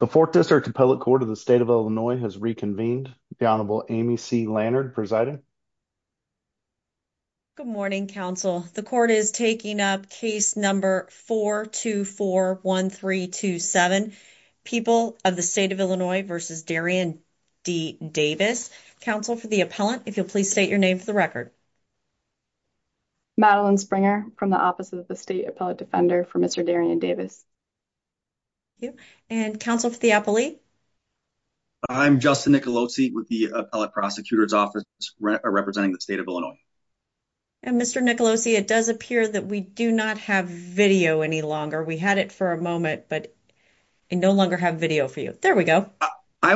The 4th District Appellate Court of the State of Illinois has reconvened. The Honorable Amy C. Lannard presiding. Good morning, counsel. The court is taking up case number 4241327. People of the State of Illinois v. Darian D. Davis. Counsel for the appellant, if you'll please state your name for the record. Madeline Springer from the Office of the State Appellate Defender for Mr. Darian Davis. Thank you. And counsel for the appellee? I'm Justin Nicolosi with the Appellate Prosecutor's Office representing the State of Illinois. And Mr. Nicolosi, it does appear that we do not have video any longer. We had it for a moment, but we no longer have video for you. There we go. I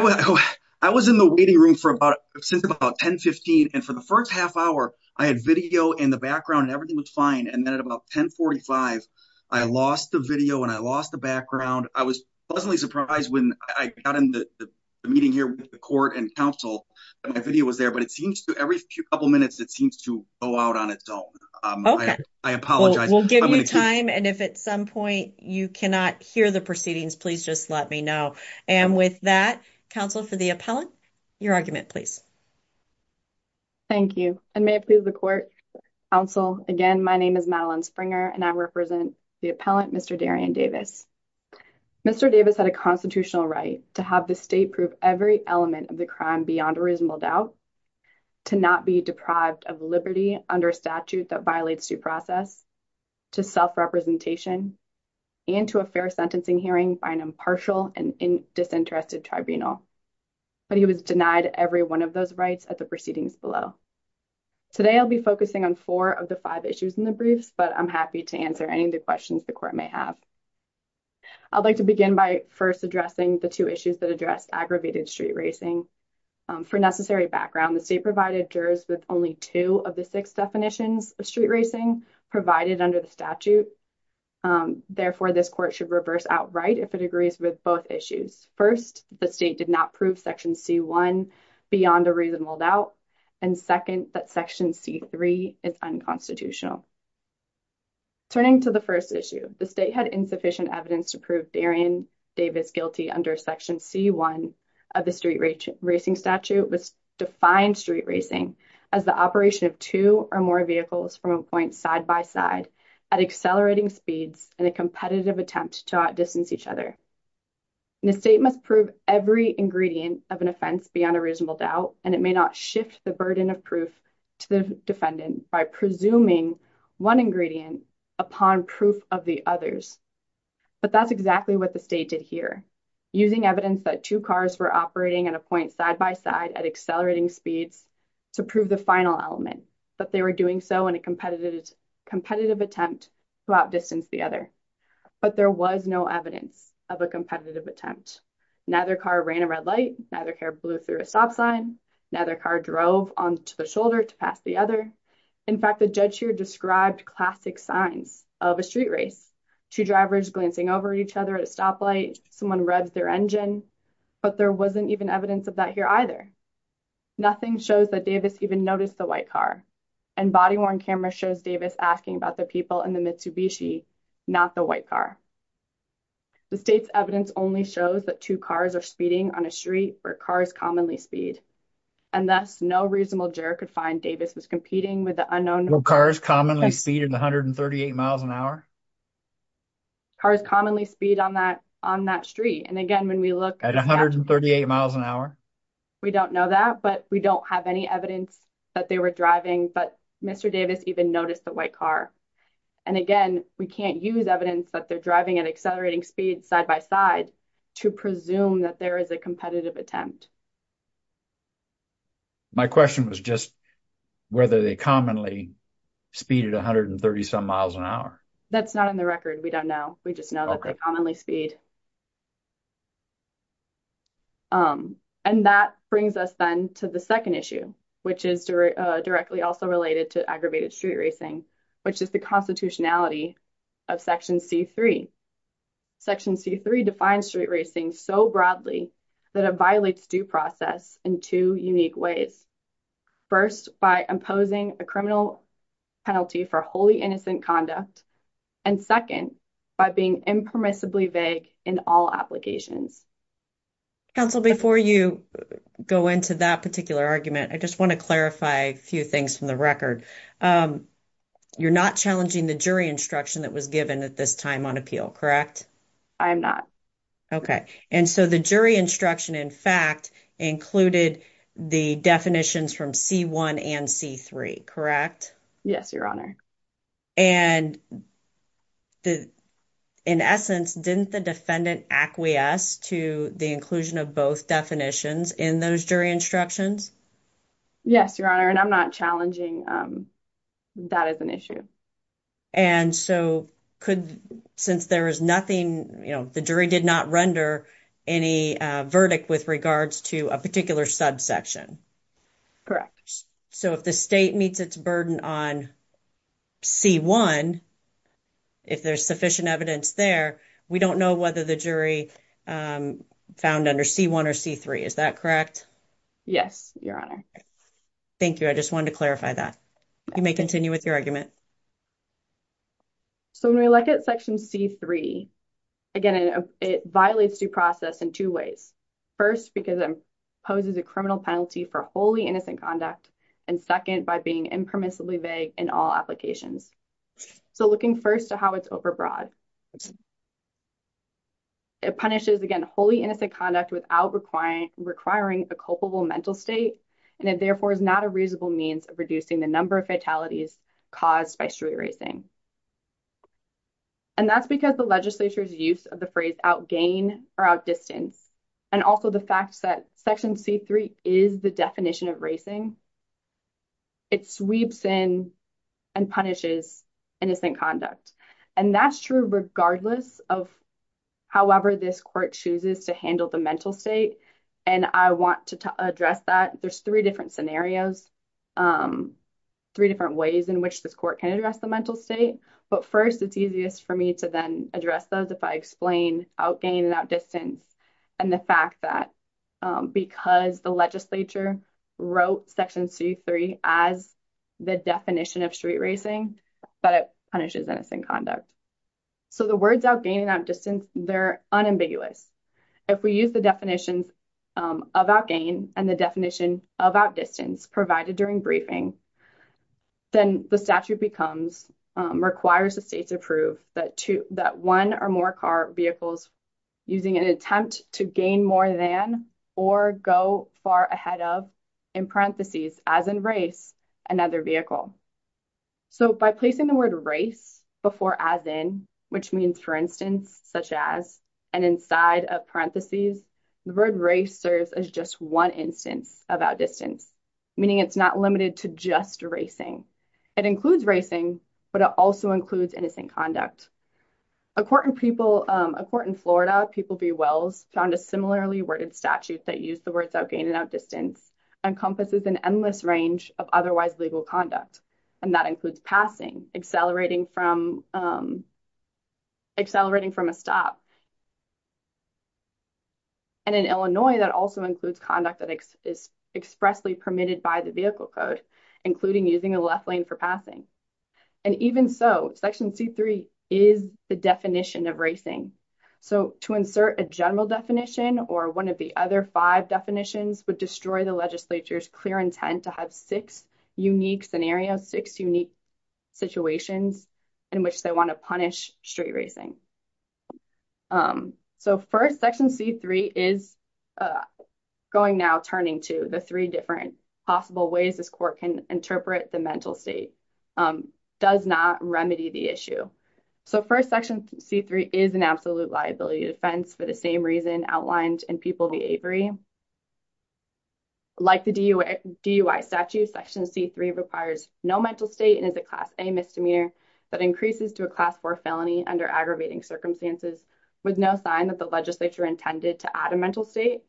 was in the waiting room since about 10.15, and for the first half hour, I had video in the background and everything was fine. And then at about 10.45, I lost the video and I lost the background. I was pleasantly surprised when I got in the meeting here with the court and counsel, that my video was there. But it seems to every couple minutes, it seems to go out on its own. I apologize. We'll give you time, and if at some point you cannot hear the proceedings, please just let me know. And with that, counsel for the appellant, your argument, please. Thank you. And may it please the court, counsel, again, my name is Madeline Springer, and I represent the appellant, Mr. Darian Davis. Mr. Davis had a constitutional right to have the state prove every element of the crime beyond a reasonable doubt, to not be deprived of liberty under a statute that violates due process, to self-representation, and to a fair sentencing hearing by an impartial and disinterested tribunal. But he was denied every one of those rights at the proceedings below. Today, I'll be focusing on four of the five issues in the briefs, but I'm happy to answer any of the questions the court may have. I'd like to begin by first addressing the two issues that address aggravated street racing. For necessary background, the state provided jurors with only two of the six definitions of street racing provided under the statute. Therefore, this court should reverse outright if it agrees with both issues. First, the state did not prove Section C-1 beyond a reasonable doubt. And second, that Section C-3 is unconstitutional. Turning to the first issue, the state had insufficient evidence to prove Darian Davis guilty under Section C-1 of the street racing statute, which defined street racing as the operation of two or more vehicles from a point side by side at accelerating speeds in a competitive attempt to outdistance each other. And the state must prove every ingredient of an offense beyond a reasonable doubt, and it may not shift the burden of proof to the defendant by presuming one ingredient upon proof of the others. But that's exactly what the state did here, using evidence that two cars were operating at a point side by side at accelerating speeds to prove the final element, but they were doing so in a competitive attempt to outdistance the other. But there was no evidence of a competitive attempt. Neither car ran a red light, neither car blew through a stop sign, neither car drove onto the shoulder to pass the other. In fact, the judge here described classic signs of a street race, two drivers glancing over each other at a stoplight, someone revs their engine, but there wasn't even evidence of that here either. Nothing shows that Davis even noticed the white car, and body-worn camera shows Davis asking about the people in the Mitsubishi, not the white car. The state's evidence only shows that two cars are speeding on a street where cars commonly speed. And thus, no reasonable juror could find Davis was competing with the unknown- Were cars commonly speeding at 138 miles an hour? Cars commonly speed on that street. And again, when we look- At 138 miles an hour? We don't know that, but we don't have any evidence that they were driving, but Mr. Davis even noticed the white car. And again, we can't use evidence that they're driving at accelerating speeds side-by-side to presume that there is a competitive attempt. My question was just whether they commonly speed at 130-some miles an hour. That's not in the record. We don't know. We just know that they commonly speed. And that brings us then to the second issue, which is directly also related to aggravated street racing, which is the constitutionality of Section C-3. Section C-3 defines street racing so broadly that it violates due process in two unique ways. First, by imposing a criminal penalty for wholly innocent conduct, and second, by being impermissibly vague in all applications. Counsel, before you go into that particular argument, I just want to clarify a few things from the record. You're not challenging the jury instruction that was given at this time on appeal, correct? I'm not. Okay. And so the jury instruction, in fact, included the definitions from C-1 and C-3, correct? Yes, Your Honor. And in essence, didn't the defendant acquiesce to the inclusion of both definitions in those jury instructions? Yes, Your Honor, and I'm not challenging that as an issue. And so could, since there is nothing, you know, the jury did not render any verdict with regards to a particular subsection. So if the state meets its burden on C-1, if there's sufficient evidence there, we don't know whether the jury found under C-1 or C-3, is that correct? Yes, Your Honor. Thank you. I just wanted to clarify that. You may continue with your argument. So when we look at Section C-3, again, it violates due process in two ways. First, because it imposes a criminal penalty for wholly innocent conduct. And second, by being impermissibly vague in all applications. So looking first to how it's overbroad. It punishes, again, wholly innocent conduct without requiring a culpable mental state, and it therefore is not a reasonable means of reducing the number of fatalities caused by street racing. And that's because the legislature's use of the phrase out-gain or out-distance, and also the fact that Section C-3 is the definition of racing, it sweeps in and punishes innocent conduct. And that's true regardless of however this court chooses to handle the mental state. And I want to address that. There's three different scenarios, three different ways in which this court can address the mental state. But first, it's easiest for me to then address those if I explain out-gain and out-distance and the fact that because the legislature wrote Section C-3 as the definition of street racing, that it punishes innocent conduct. So the words out-gain and out-distance, they're unambiguous. If we use the definitions of out-gain and the definition of out-distance provided during briefing, then the statute becomes, requires the state to prove that one or more car vehicles, using an attempt to gain more than or go far ahead of, in parentheses, as in race, another vehicle. So by placing the word race before as in, which means for instance, such as, and inside of parentheses, the word race serves as just one instance of out-distance, meaning it's not limited to just racing. It includes racing, but it also includes innocent conduct. A court in people, a court in Florida, People v. Wells, found a similarly worded statute that used the words out-gain and out-distance encompasses an endless range of otherwise legal conduct. And that includes passing, accelerating from, accelerating from a stop. And in Illinois, that also includes conduct that is expressly permitted by the vehicle code, including using a left lane for passing. And even so, Section C-3 is the definition of racing. So to insert a general definition or one of the other five definitions would destroy the legislature's clear intent to have six unique scenarios, six unique situations in which they want to punish street racing. So first, Section C-3 is going now turning to the three different possible ways this court can interpret the mental state, does not remedy the issue. So first, Section C-3 is an absolute liability defense for the same reason outlined in People v. Avery. Like the DUI statute, Section C-3 requires no mental state and is a Class A misdemeanor that increases to a Class 4 felony under aggravating circumstances, with no sign that the legislature intended to add a mental state.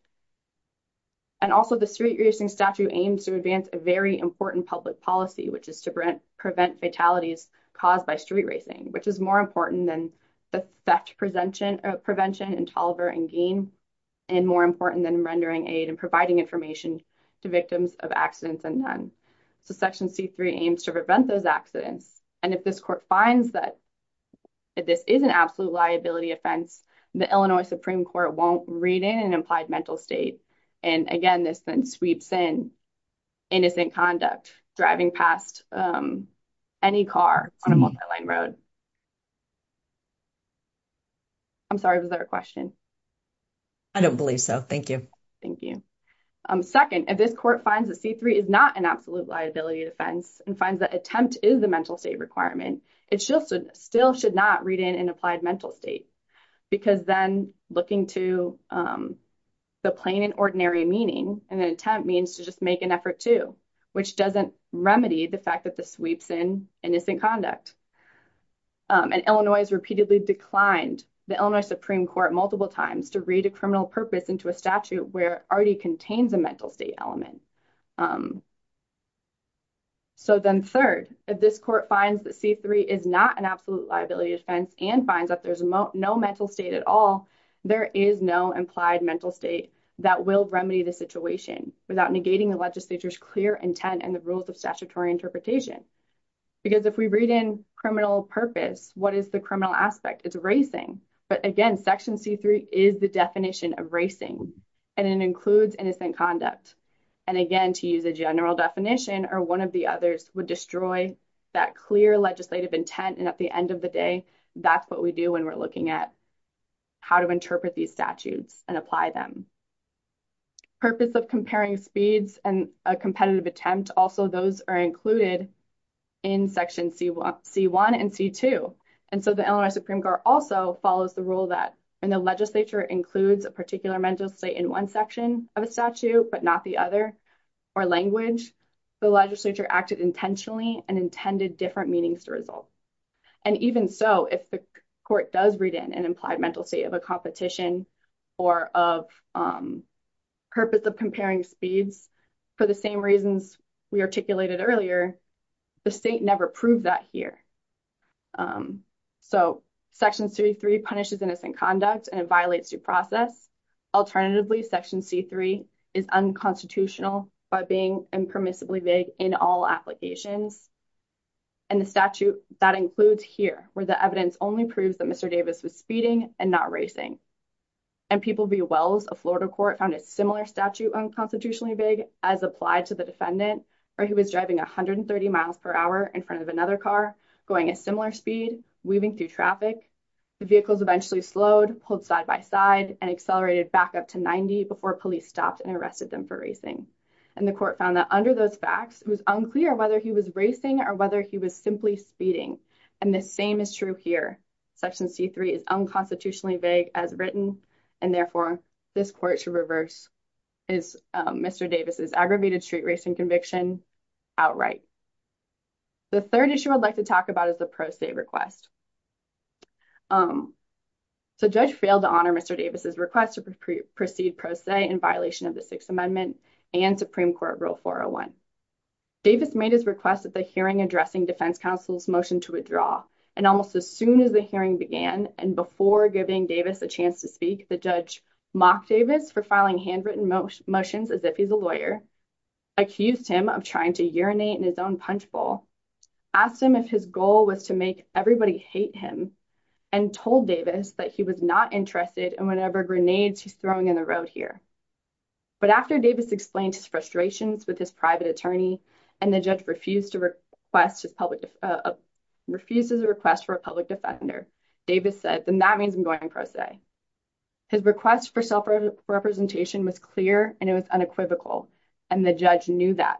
And also the street racing statute aims to advance a very important public policy, which is to prevent fatalities caused by street racing, which is more important than the theft prevention in Tolliver and Gaine, and more important than rendering aid and providing information to victims of accidents and none. So Section C-3 aims to prevent those accidents. And if this court finds that this is an absolute liability offense, the Illinois Supreme Court won't read in an implied mental state. And again, this then sweeps in innocent conduct driving past any car on a multi-lane road. I'm sorry, was there a question? I don't believe so. Thank you. Thank you. Second, if this court finds that C-3 is not an absolute liability defense and finds that attempt is the mental state requirement, it still should not read in an implied mental state, because then looking to the plain and ordinary meaning, an attempt means to just make an effort to, which doesn't remedy the fact that this sweeps in innocent conduct. And Illinois has repeatedly declined the Illinois Supreme Court multiple times to read a criminal purpose into a statute where it already contains a mental state element. So then third, if this court finds that C-3 is not an absolute liability defense and finds that there's no mental state at all, there is no implied mental state that will remedy the situation without negating the legislature's clear intent and the rules of statutory interpretation. Because if we read in criminal purpose, what is the criminal aspect? It's racing. But again, Section C-3 is the definition of racing and it includes innocent conduct. And again, to use a general definition or one of the others would destroy that clear legislative intent. And at the end of the day, that's what we do when we're looking at how to interpret these statutes and apply them. Purpose of comparing speeds and a competitive attempt, also those are included in Section C-1 and C-2. And so the Illinois Supreme Court also follows the rule that when the legislature includes a particular mental state in one section of a statute, but not the other, or language, the legislature acted intentionally and intended different meanings to result. And even so, if the court does read in an implied mental state of a competition or of purpose of comparing speeds for the same reasons we articulated earlier, the state never proved that here. So Section C-3 punishes innocent conduct and it violates due process. Alternatively, Section C-3 is unconstitutional by being impermissibly vague in all applications. And the statute that includes here, where the evidence only proves that Mr. Davis was speeding and not racing. And people view Wells, a Florida court, found a similar statute unconstitutionally vague as applied to the defendant, where he was driving 130 miles per hour in front of another car, going a similar speed, weaving through traffic. The vehicles eventually slowed, pulled side by side, and accelerated back up to 90 before police stopped and arrested them for racing. And the court found that under those facts, it was unclear whether he was racing or whether he was simply speeding. And the same is true here. Section C-3 is unconstitutionally vague as written, and therefore this court should reverse Mr. Davis's aggravated street racing conviction outright. The third issue I'd like to talk about is the pro se request. So judge failed to honor Mr. Davis's request to proceed pro se in violation of the Sixth Amendment and Supreme Court Rule 401. Davis made his request at the hearing addressing defense counsel's motion to withdraw. And almost as soon as the hearing began, and before giving Davis a chance to speak, the judge mocked Davis for filing handwritten motions as if he's a lawyer, accused him of trying to urinate in his own punch bowl, asked him if his goal was to make everybody hate him, and told Davis that he was not interested in whatever grenades he's throwing in the road here. But after Davis explained his frustrations with his private attorney, and the judge refused to request his public, refused his request for a public defender, Davis said, then that means I'm going pro se. His request for self-representation was clear, and it was unequivocal, and the judge knew that.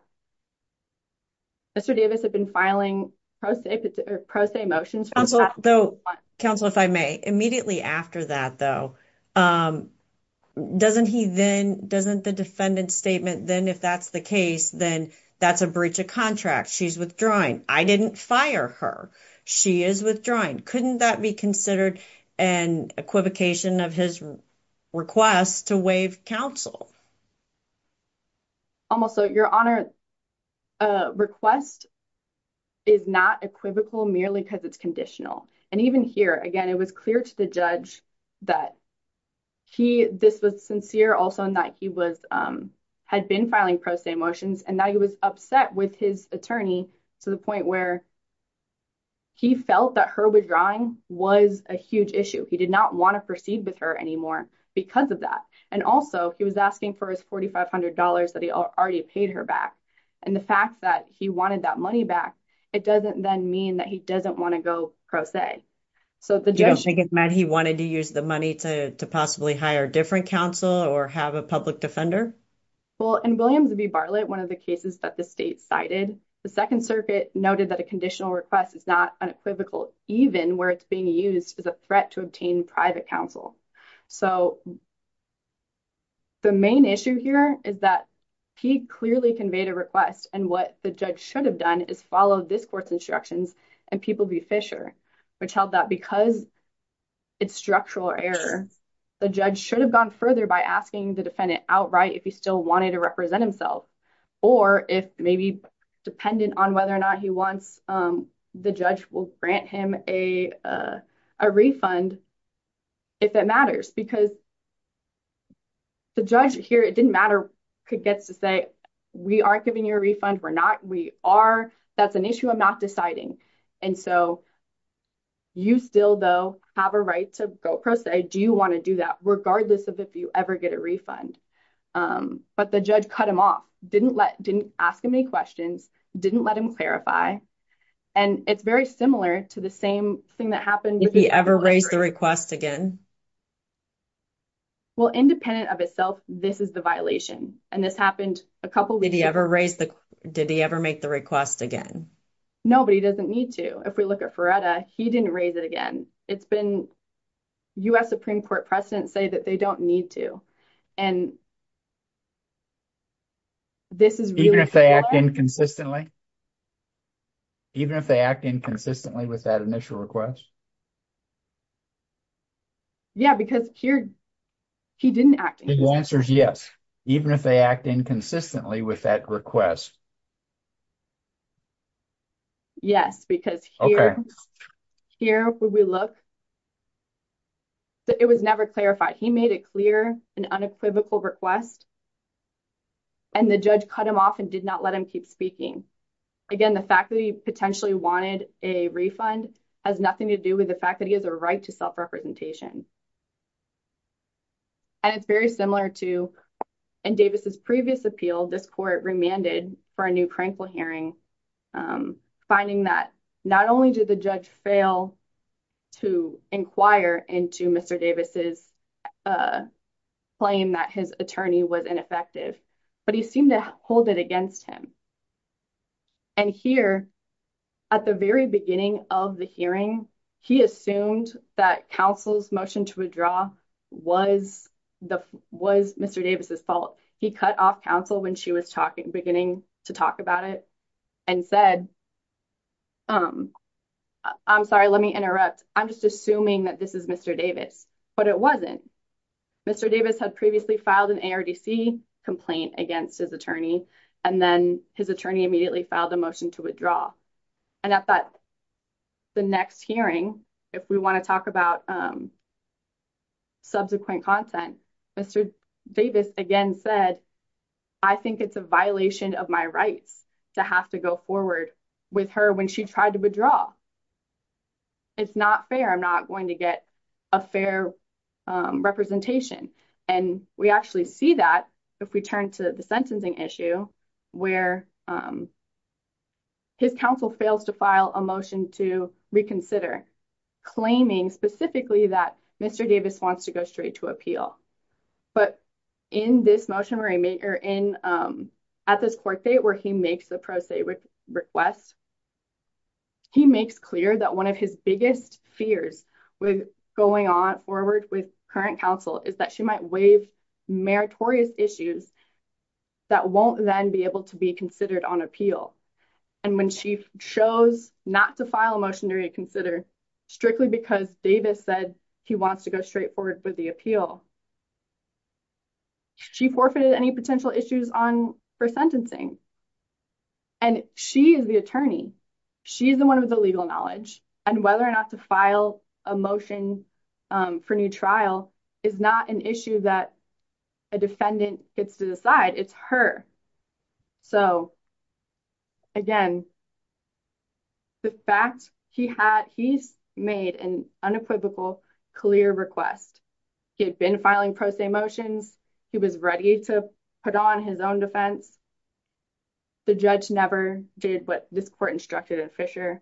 Mr. Davis had been filing pro se motions. Counsel, though, counsel, if I may, immediately after that, though, doesn't he then, doesn't the defendant's statement then, if that's the case, then that's a breach of contract. She's withdrawing. I didn't fire her. She is withdrawing. Couldn't that be considered an equivocation of his request to waive counsel? Almost. So, Your Honor, a request is not equivocal merely because it's conditional. And even here, it was clear to the judge that he, this was sincere also in that he was, had been filing pro se motions, and now he was upset with his attorney to the point where he felt that her withdrawing was a huge issue. He did not want to proceed with her anymore because of that. And also, he was asking for his $4,500 that he already paid her back. And the fact that he wanted that money back, it doesn't then mean that he doesn't want to go pro se. So, the judge... You don't think it meant he wanted to use the money to possibly hire different counsel or have a public defender? Well, in Williams v. Bartlett, one of the cases that the state cited, the Second Circuit noted that a conditional request is not unequivocal even where it's being used as a threat to obtain private counsel. So, the main issue here is that he clearly conveyed a request, and what the judge should have done is followed this court's instructions and people v. Fisher, which held that because it's structural error, the judge should have gone further by asking the defendant outright if he still wanted to represent himself, or if maybe dependent on whether or not he wants, the judge will grant him a refund if that matters. Because the judge here, it didn't matter, gets to say, we aren't giving you a refund. We're not. We are. That's an issue I'm not deciding. And so, you still, though, have a right to go pro se. Do you want to do that, regardless of if you ever get a refund? But the judge cut him off, didn't ask him any questions, didn't let him clarify. And it's very similar to the same thing that happened... If he ever raised the request again? Well, independent of itself, this is the violation. And this happened a couple weeks ago. Did he ever raise the... Did he ever make the request again? No, but he doesn't need to. If we look at Ferretta, he didn't raise it again. It's been... U.S. Supreme Court precedents say that they don't need to. And this is really... Even if they act inconsistently? Even if they act inconsistently with that initial request? Yeah, because here, he didn't act... The answer is yes, even if they act inconsistently with that request. Yes, because here, here, when we look, it was never clarified. He made it clear, an unequivocal request, and the judge cut him off and did not let him keep speaking. Again, the fact that he potentially wanted a refund has nothing to do with the fact that he has a right to self-representation. And it's very similar to... In Davis's previous appeal, this court remanded for a new Crankville hearing, finding that not only did the judge fail to inquire into Mr. Davis's claim that his attorney was ineffective, but he seemed to hold it against him. And here, at the very beginning of the hearing, he assumed that counsel's motion to withdraw was Mr. Davis's fault. He cut off counsel when she was beginning to talk about it and said, I'm sorry, let me interrupt. I'm just assuming that this is Mr. Davis, but it wasn't. Mr. Davis had previously filed an ARDC complaint against his and then his attorney immediately filed a motion to withdraw. And at the next hearing, if we want to talk about subsequent content, Mr. Davis again said, I think it's a violation of my rights to have to go forward with her when she tried to withdraw. It's not fair. I'm not going to get a fair representation. And we actually see that if we turn to the sentencing issue, where his counsel fails to file a motion to reconsider, claiming specifically that Mr. Davis wants to go straight to appeal. But in this motion, at this court date where he makes the pro se request, he makes clear that one of his biggest fears with going on forward with current counsel is that she might waive meritorious issues that won't then be able to be considered on appeal. And when she chose not to file a motion to reconsider, strictly because Davis said he wants to go straight forward with the appeal, she forfeited any potential issues for sentencing. And she is the attorney. She's the one with the legal knowledge. And whether or not to file a motion for new trial is not an issue that a defendant gets to decide. It's her. So again, the fact he's made an unequivocal clear request, he had been filing pro se motions, he was ready to put on his own defense. The judge never did what this court instructed at Fisher.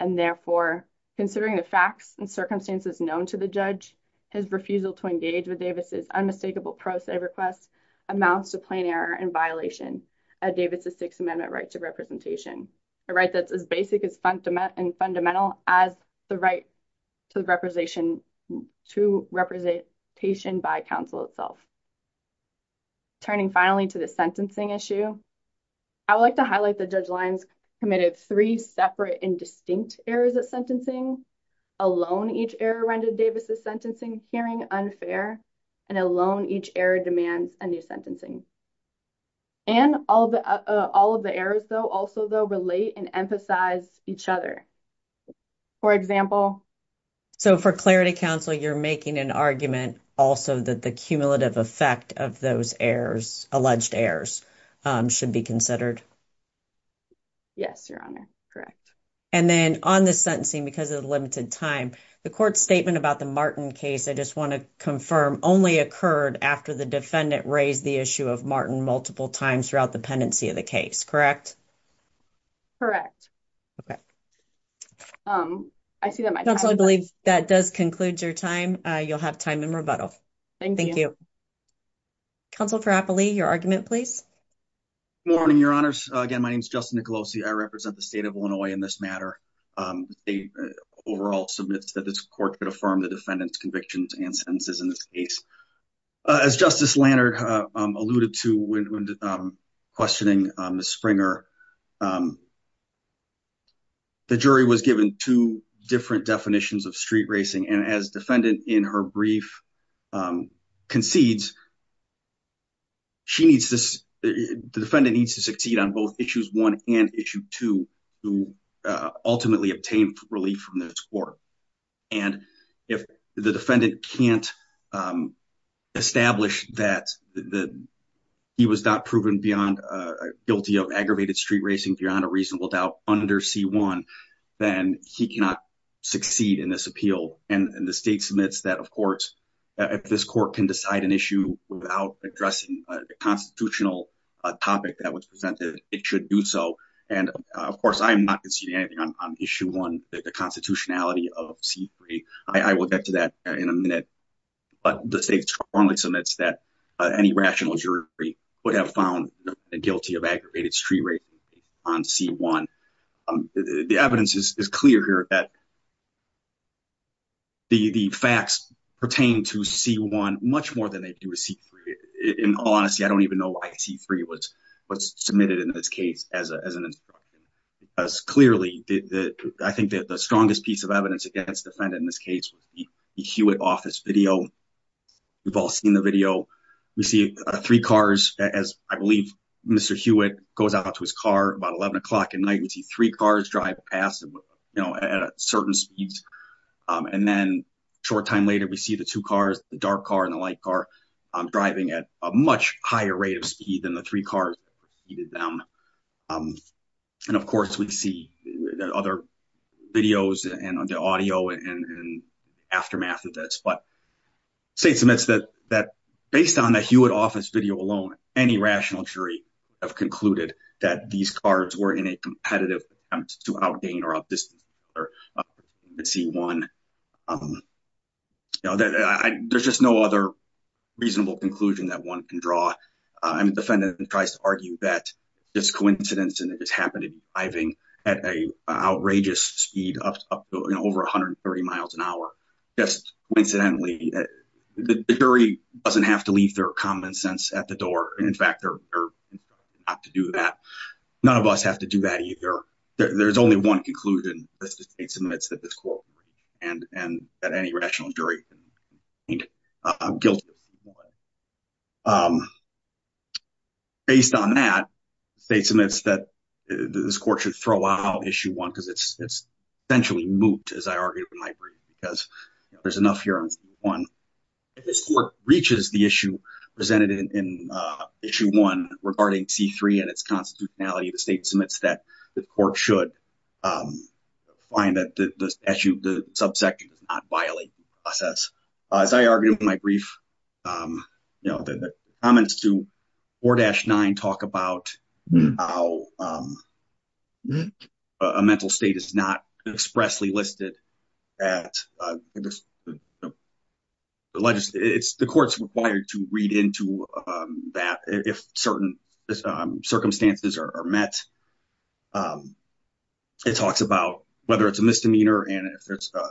And therefore, considering the facts and circumstances known to the judge, his refusal to engage with Davis's unmistakable pro se request amounts to plain error and violation of Davis's Sixth Amendment right to representation. A right that's as basic and fundamental as the right to representation by counsel itself. Turning finally to the sentencing issue, I would like to highlight the judge Lyons committed three separate and distinct errors at sentencing, alone each error rendered Davis's sentencing hearing unfair, and alone each error demands a new sentencing. And all of the errors, though, also, though, relate and emphasize each other. For example. So for clarity counsel, you're making an argument also that the cumulative effect of those errors, alleged errors should be considered. Yes, Your Honor. Correct. And then on the sentencing, because of the limited time, the court statement about the Martin case, I just want to confirm only occurred after the defendant raised the issue of Martin multiple times throughout the pendency of the case, correct? Correct. Okay. I see that. I believe that does conclude your time. You'll have time in rebuttal. Thank you. Council for happily your argument, please. Morning, Your Honors. Again, my name is Justin Nicolosi. I represent the state of Illinois in this matter. The overall submits that this court could affirm the defendant's convictions and sentences in this case. As Justice Lannert alluded to when questioning Ms. Springer, the jury was given two different definitions of street racing. And as defendant in her brief concedes, the defendant needs to succeed on both issues one and issue two to ultimately obtain relief from this court. And if the defendant can't establish that he was not proven beyond guilty of aggravated street racing beyond a reasonable doubt under C1, then he cannot succeed in this appeal. And the state submits that, of course, if this court can decide an issue without addressing the constitutional topic that was presented, it should do so. And of course, I'm not conceding anything on issue one, the constitutionality of C3. I will get to that in a minute. But the state strongly submits that any rational jury would have found the guilty of aggravated street racing on C1. The evidence is clear here that the facts pertain to C1 much more than they do to C3. In all honesty, I don't even know why C3 was submitted in this case as an as clearly that I think that the strongest piece of evidence against the defendant in this case was the Hewitt office video. We've all seen the video. We see three cars as I believe Mr. Hewitt goes out to his car about 11 o'clock at night. We see three cars drive past, you know, at certain speeds. And then short time later, we see the two cars, the dark car and the light car driving at a higher rate of speed than the three cars that preceded them. And of course, we see other videos and the audio and aftermath of this. But state submits that based on the Hewitt office video alone, any rational jury have concluded that these cars were in a competitive attempt to out gain or out distance C1. There's just no other reasonable conclusion that one can draw. I mean, the defendant tries to argue that it's coincidence and it just happened to be driving at an outrageous speed up to over 130 miles an hour. Just coincidentally, the jury doesn't have to leave their common sense at the door. And in fact, they're not to do that. None of us have to do that either. There's only one conclusion that the state submits that this court and that any rational jury. I'm guilty. Based on that, the state submits that this court should throw out issue one because it's essentially moot, as I argued in my brief, because there's enough here on C1. If this court reaches the issue presented in issue one regarding C3 and its constitutionality, the state submits that the court should find that the subsection does not violate the process. As I argued in my brief, the comments to 4-9 talk about how a mental state is not expressly listed at the court's required to read into that if certain circumstances are met. It talks about whether it's a misdemeanor and if there's a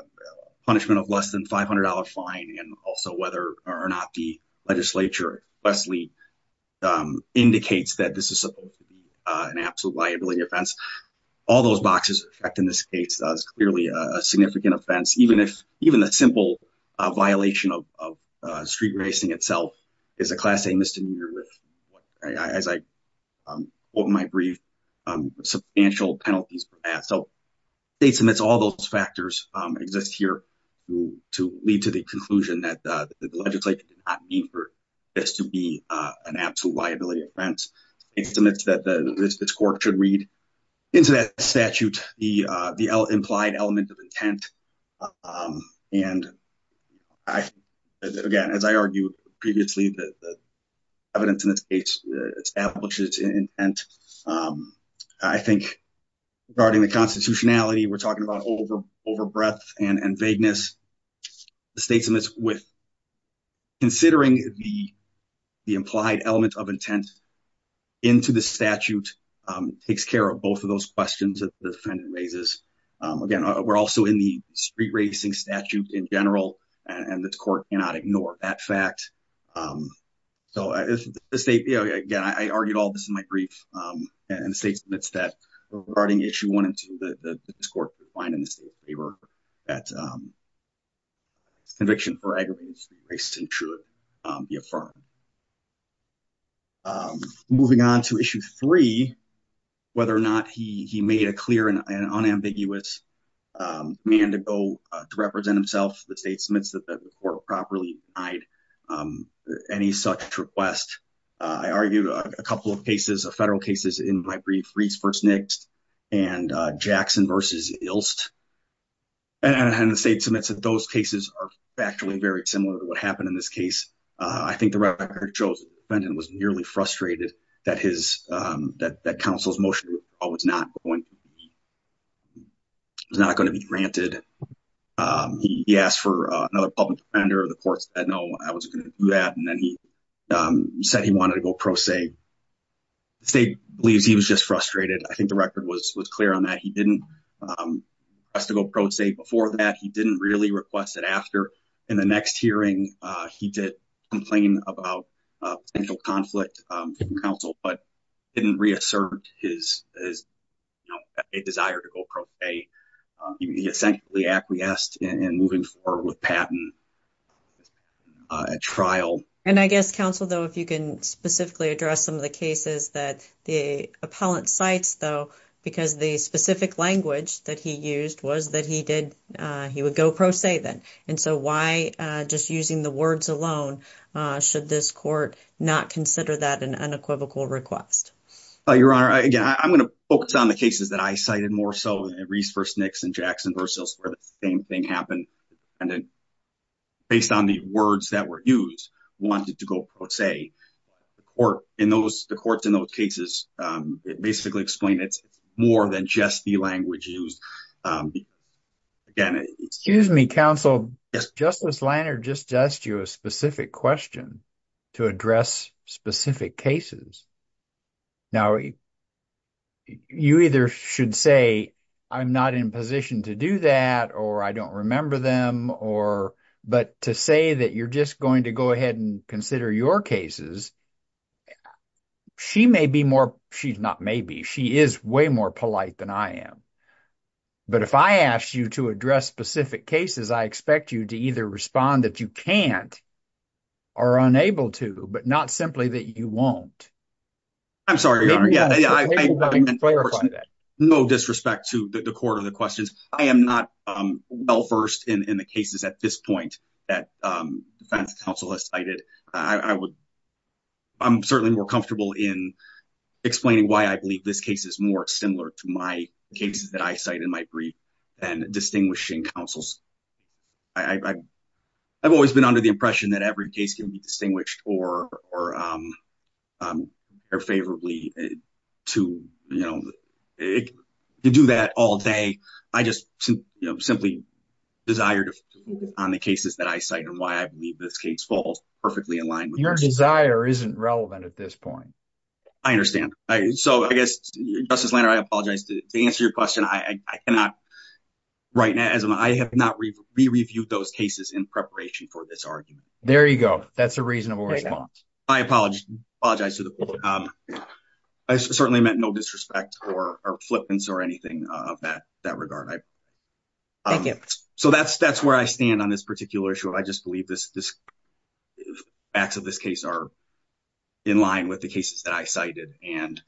punishment of less than $500 fine and also whether or not the legislature, Wesley, indicates that this is supposed to be an liability offense. All those boxes in this case is clearly a significant offense, even if the simple violation of street racing itself is a class A misdemeanor, as I quote in my brief, substantial penalties. So the state submits all those factors exist here to lead to the conclusion that the legislature did not mean for this to be an absolute liability offense. It submits that this court should read into that statute the implied element of intent. And again, as I argued previously, the evidence in this case establishes intent. I think regarding the constitutionality, we're talking about over breadth and vagueness. The state submits with considering the implied element of intent into the statute. It takes care of both of those questions that the defendant raises. Again, we're also in the street racing statute in general, and the court cannot ignore that fact. So the state, again, I argued all this in my brief, and the state submits that regarding issue one and two, that this court would find in the state's favor that conviction for aggravated street racing should be affirmed. Moving on to issue three, whether or not he made a clear and unambiguous mandate to go to represent himself, the state submits that the court will properly provide any such request. I argued a couple of cases, a federal cases in my brief, Reese v. Nix and Jackson v. Ilst. And the state submits that those cases are actually very similar to what happened in this case. I think the record shows the defendant was nearly frustrated that counsel's motion was not going to be granted. He asked for another public defender. The court said, no, I wasn't going to do that. And then he said he wanted to go pro se. The state believes he was just frustrated. I think the record was clear on that. He didn't request to go pro se before that. He didn't really request it after. In the next hearing, he did complain about potential conflict from counsel, but didn't reassert his desire to go pro se. He essentially acquiesced in moving forward with Patton at trial. And I guess, counsel, though, if you can specifically address some of the cases that the appellant cites, though, because the specific language that he used was that he would go pro se then. And so why, just using the words alone, should this court not consider that an unequivocal request? Your Honor, again, I'm going to focus on the cases that I cited more so, Reese v. Nix and Jackson v. Ilst, where the same thing happened. And then based on the words that were used, wanted to go pro se. The courts in those cases basically explain it's more than just the language used. Again, excuse me, counsel, Justice Lanard just asked you a specific question to address specific cases. Now, you either should say, I'm not in position to do that, or I don't remember them, or, but to say that you're just going to go ahead and consider your cases, she may be more, she's not maybe, she is way more polite than I am. But if I asked you to address specific cases, I expect you to either respond that you can't or unable to, but not simply that you won't. I'm sorry, Your Honor. No disrespect to the court or the questions. I am not well versed in the cases at this point that defense counsel has cited. I would, I'm certainly more comfortable in explaining why I believe this case is more similar to my cases that I cite in my brief and distinguishing counsels. I've always been under the impression that every case can be distinguished or favorably to, you know, to do that all day. I just simply desire to focus on the cases that I cite and why I believe this case falls perfectly in line. Your desire isn't relevant at this point. I understand. So, I guess, Justice Lanard, I apologize to answer your question. I cannot right now, as I have not re-reviewed those cases in preparation for this argument. There you go. That's a reasonable response. I apologize to the public. I certainly meant no disrespect or flippance or anything of that regard. Thank you. So, that's where I stand on this particular issue. I just believe facts of this case are in line with the cases that I cited. And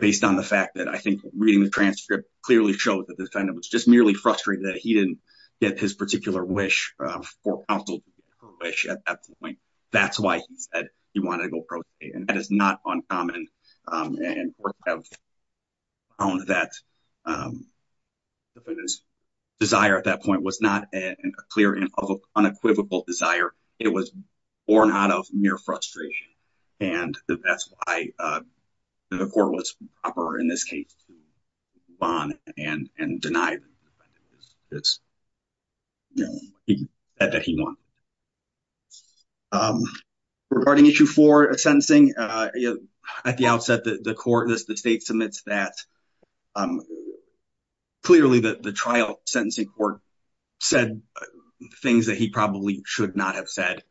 based on the fact that I think reading the transcript clearly showed that the defendant was just merely frustrated that he didn't get his particular wish for counsel to get her wish at that point. That's why he said he wanted to go pro se. And that is not uncommon. And courts have found that the defendant's desire at that point was not a clear and unequivocal desire. It was born out of mere frustration. And that's why the court was proper, in this case, to move on and deny the defendant that he wanted. Regarding issue four of sentencing, at the outset, the state submits that clearly the trial sentencing court said things that he probably should not have said.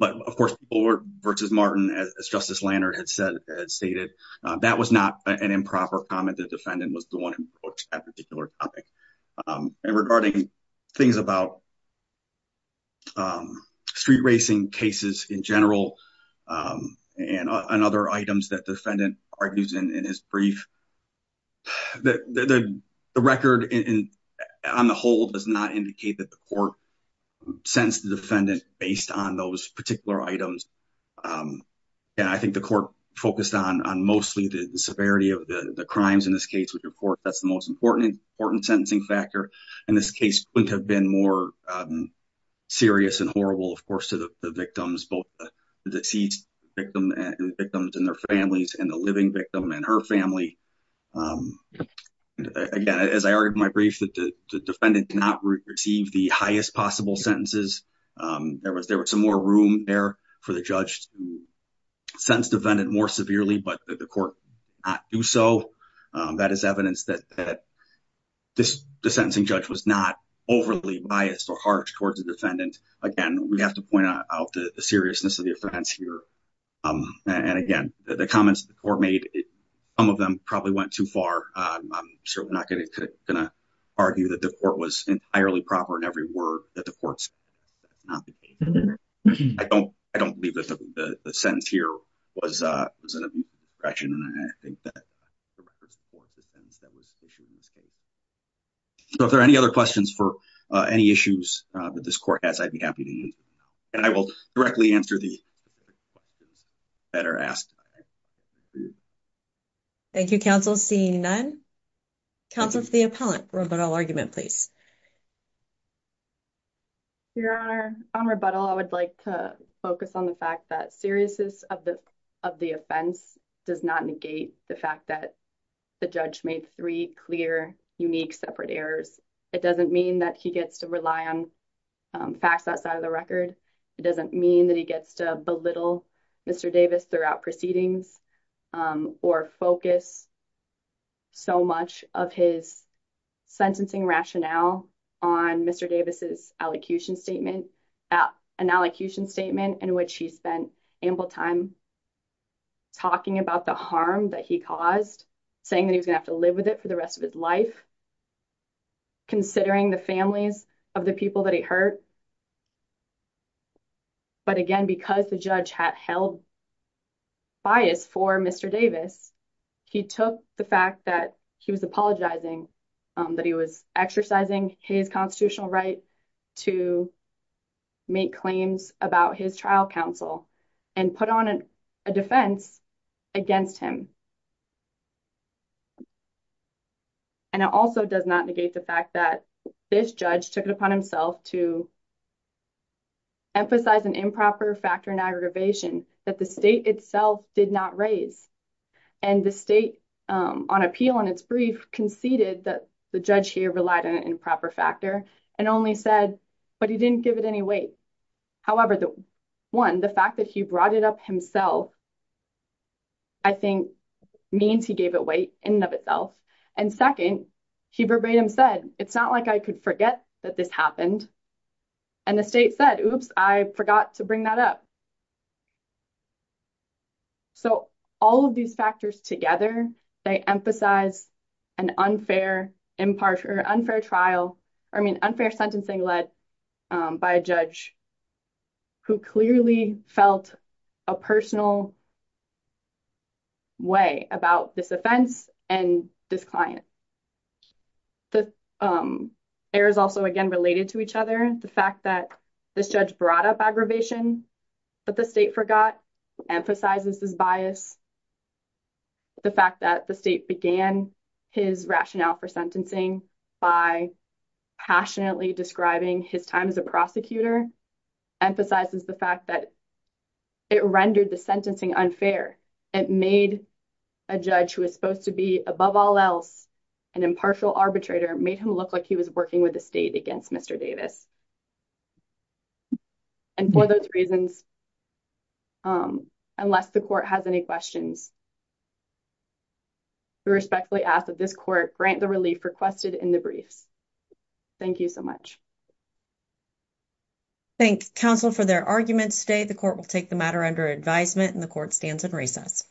But, of course, Bullard v. Martin, as Justice Lanard had stated, that was not an improper comment. The defendant was the one who wrote that particular topic. And regarding things about street racing cases in general and other items that the defendant argues in his brief, the record on the whole does not indicate that the court sentenced the defendant based on those particular items. And I think the court focused on mostly the severity of the crimes in this case, which, of course, that's the most important sentencing factor. And this case wouldn't have been more serious and horrible, of course, to the victims, both the deceased victims and their families and the living victim and her family. Again, as I argued in my brief, the defendant did not receive the highest possible sentences. There was some more room there for the judge to sentence the defendant more severely, but the court did not do so. That is evidence that the sentencing judge was not overly biased or harsh towards the defendant. Again, we have to point out the seriousness of the offense here. And again, the comments the court made, some of them probably went too far. I'm certainly not going to argue that the court was entirely proper in every word that the court said. I don't believe that the sentence here was an abuse of discretion. And I think that the record supports the sentence that was issued in this case. So if there are any other questions for any issues that this court has, I'd be happy to answer them. And I will directly answer the questions that are asked. Thank you, counsel. Seeing none, counsel for the appellant, rebuttal argument, please. Your Honor, on rebuttal, I would like to focus on the fact that seriousness of the offense does not negate the fact that the judge made three clear, unique, separate errors. It doesn't mean that he gets to rely on facts outside of the record. It doesn't mean that he gets to belittle Mr. Davis throughout proceedings or focus so much of his sentencing rationale on Mr. Davis' allocution statement, an allocution statement in which he spent ample time talking about the harm that he caused, saying that he was going to have to live with it for the rest of his life, considering the families of the people that he hurt. But again, because the judge had held bias for Mr. Davis, he took the fact that he was apologizing, that he was exercising his constitutional right to make claims about his trial counsel and put on a defense against him. And it also does not negate the fact that this judge took it upon himself to emphasize an improper factor in aggravation that the state itself did not raise. And the state, on appeal in its brief, conceded that the judge here relied on an improper factor and only said, but he didn't give it any weight. However, one, the fact that he brought it up himself, I think, means he gave it weight in and of itself. And second, he verbatim said, it's not like I could forget that this happened. And the state said, oops, I forgot to bring that up. So, all of these factors together, they emphasize an unfair impartial, unfair trial, I mean, unfair sentencing led by a judge who clearly felt a personal way about this offense and this client. The errors also, again, related to each other. The fact that this judge brought up aggravation, but the state forgot, emphasizes this bias. The fact that the state began his rationale for sentencing by passionately describing his time as a prosecutor emphasizes the fact that it rendered the sentencing unfair. It made a judge who is supposed to be, above all else, an impartial arbitrator, made him look like he was working with the state against Mr. Davis. And for those reasons, unless the court has any questions, we respectfully ask that this court grant the relief requested in the briefs. Thank you so much. Thank counsel for their arguments today. The court will take the matter under advisement and the court stands in recess.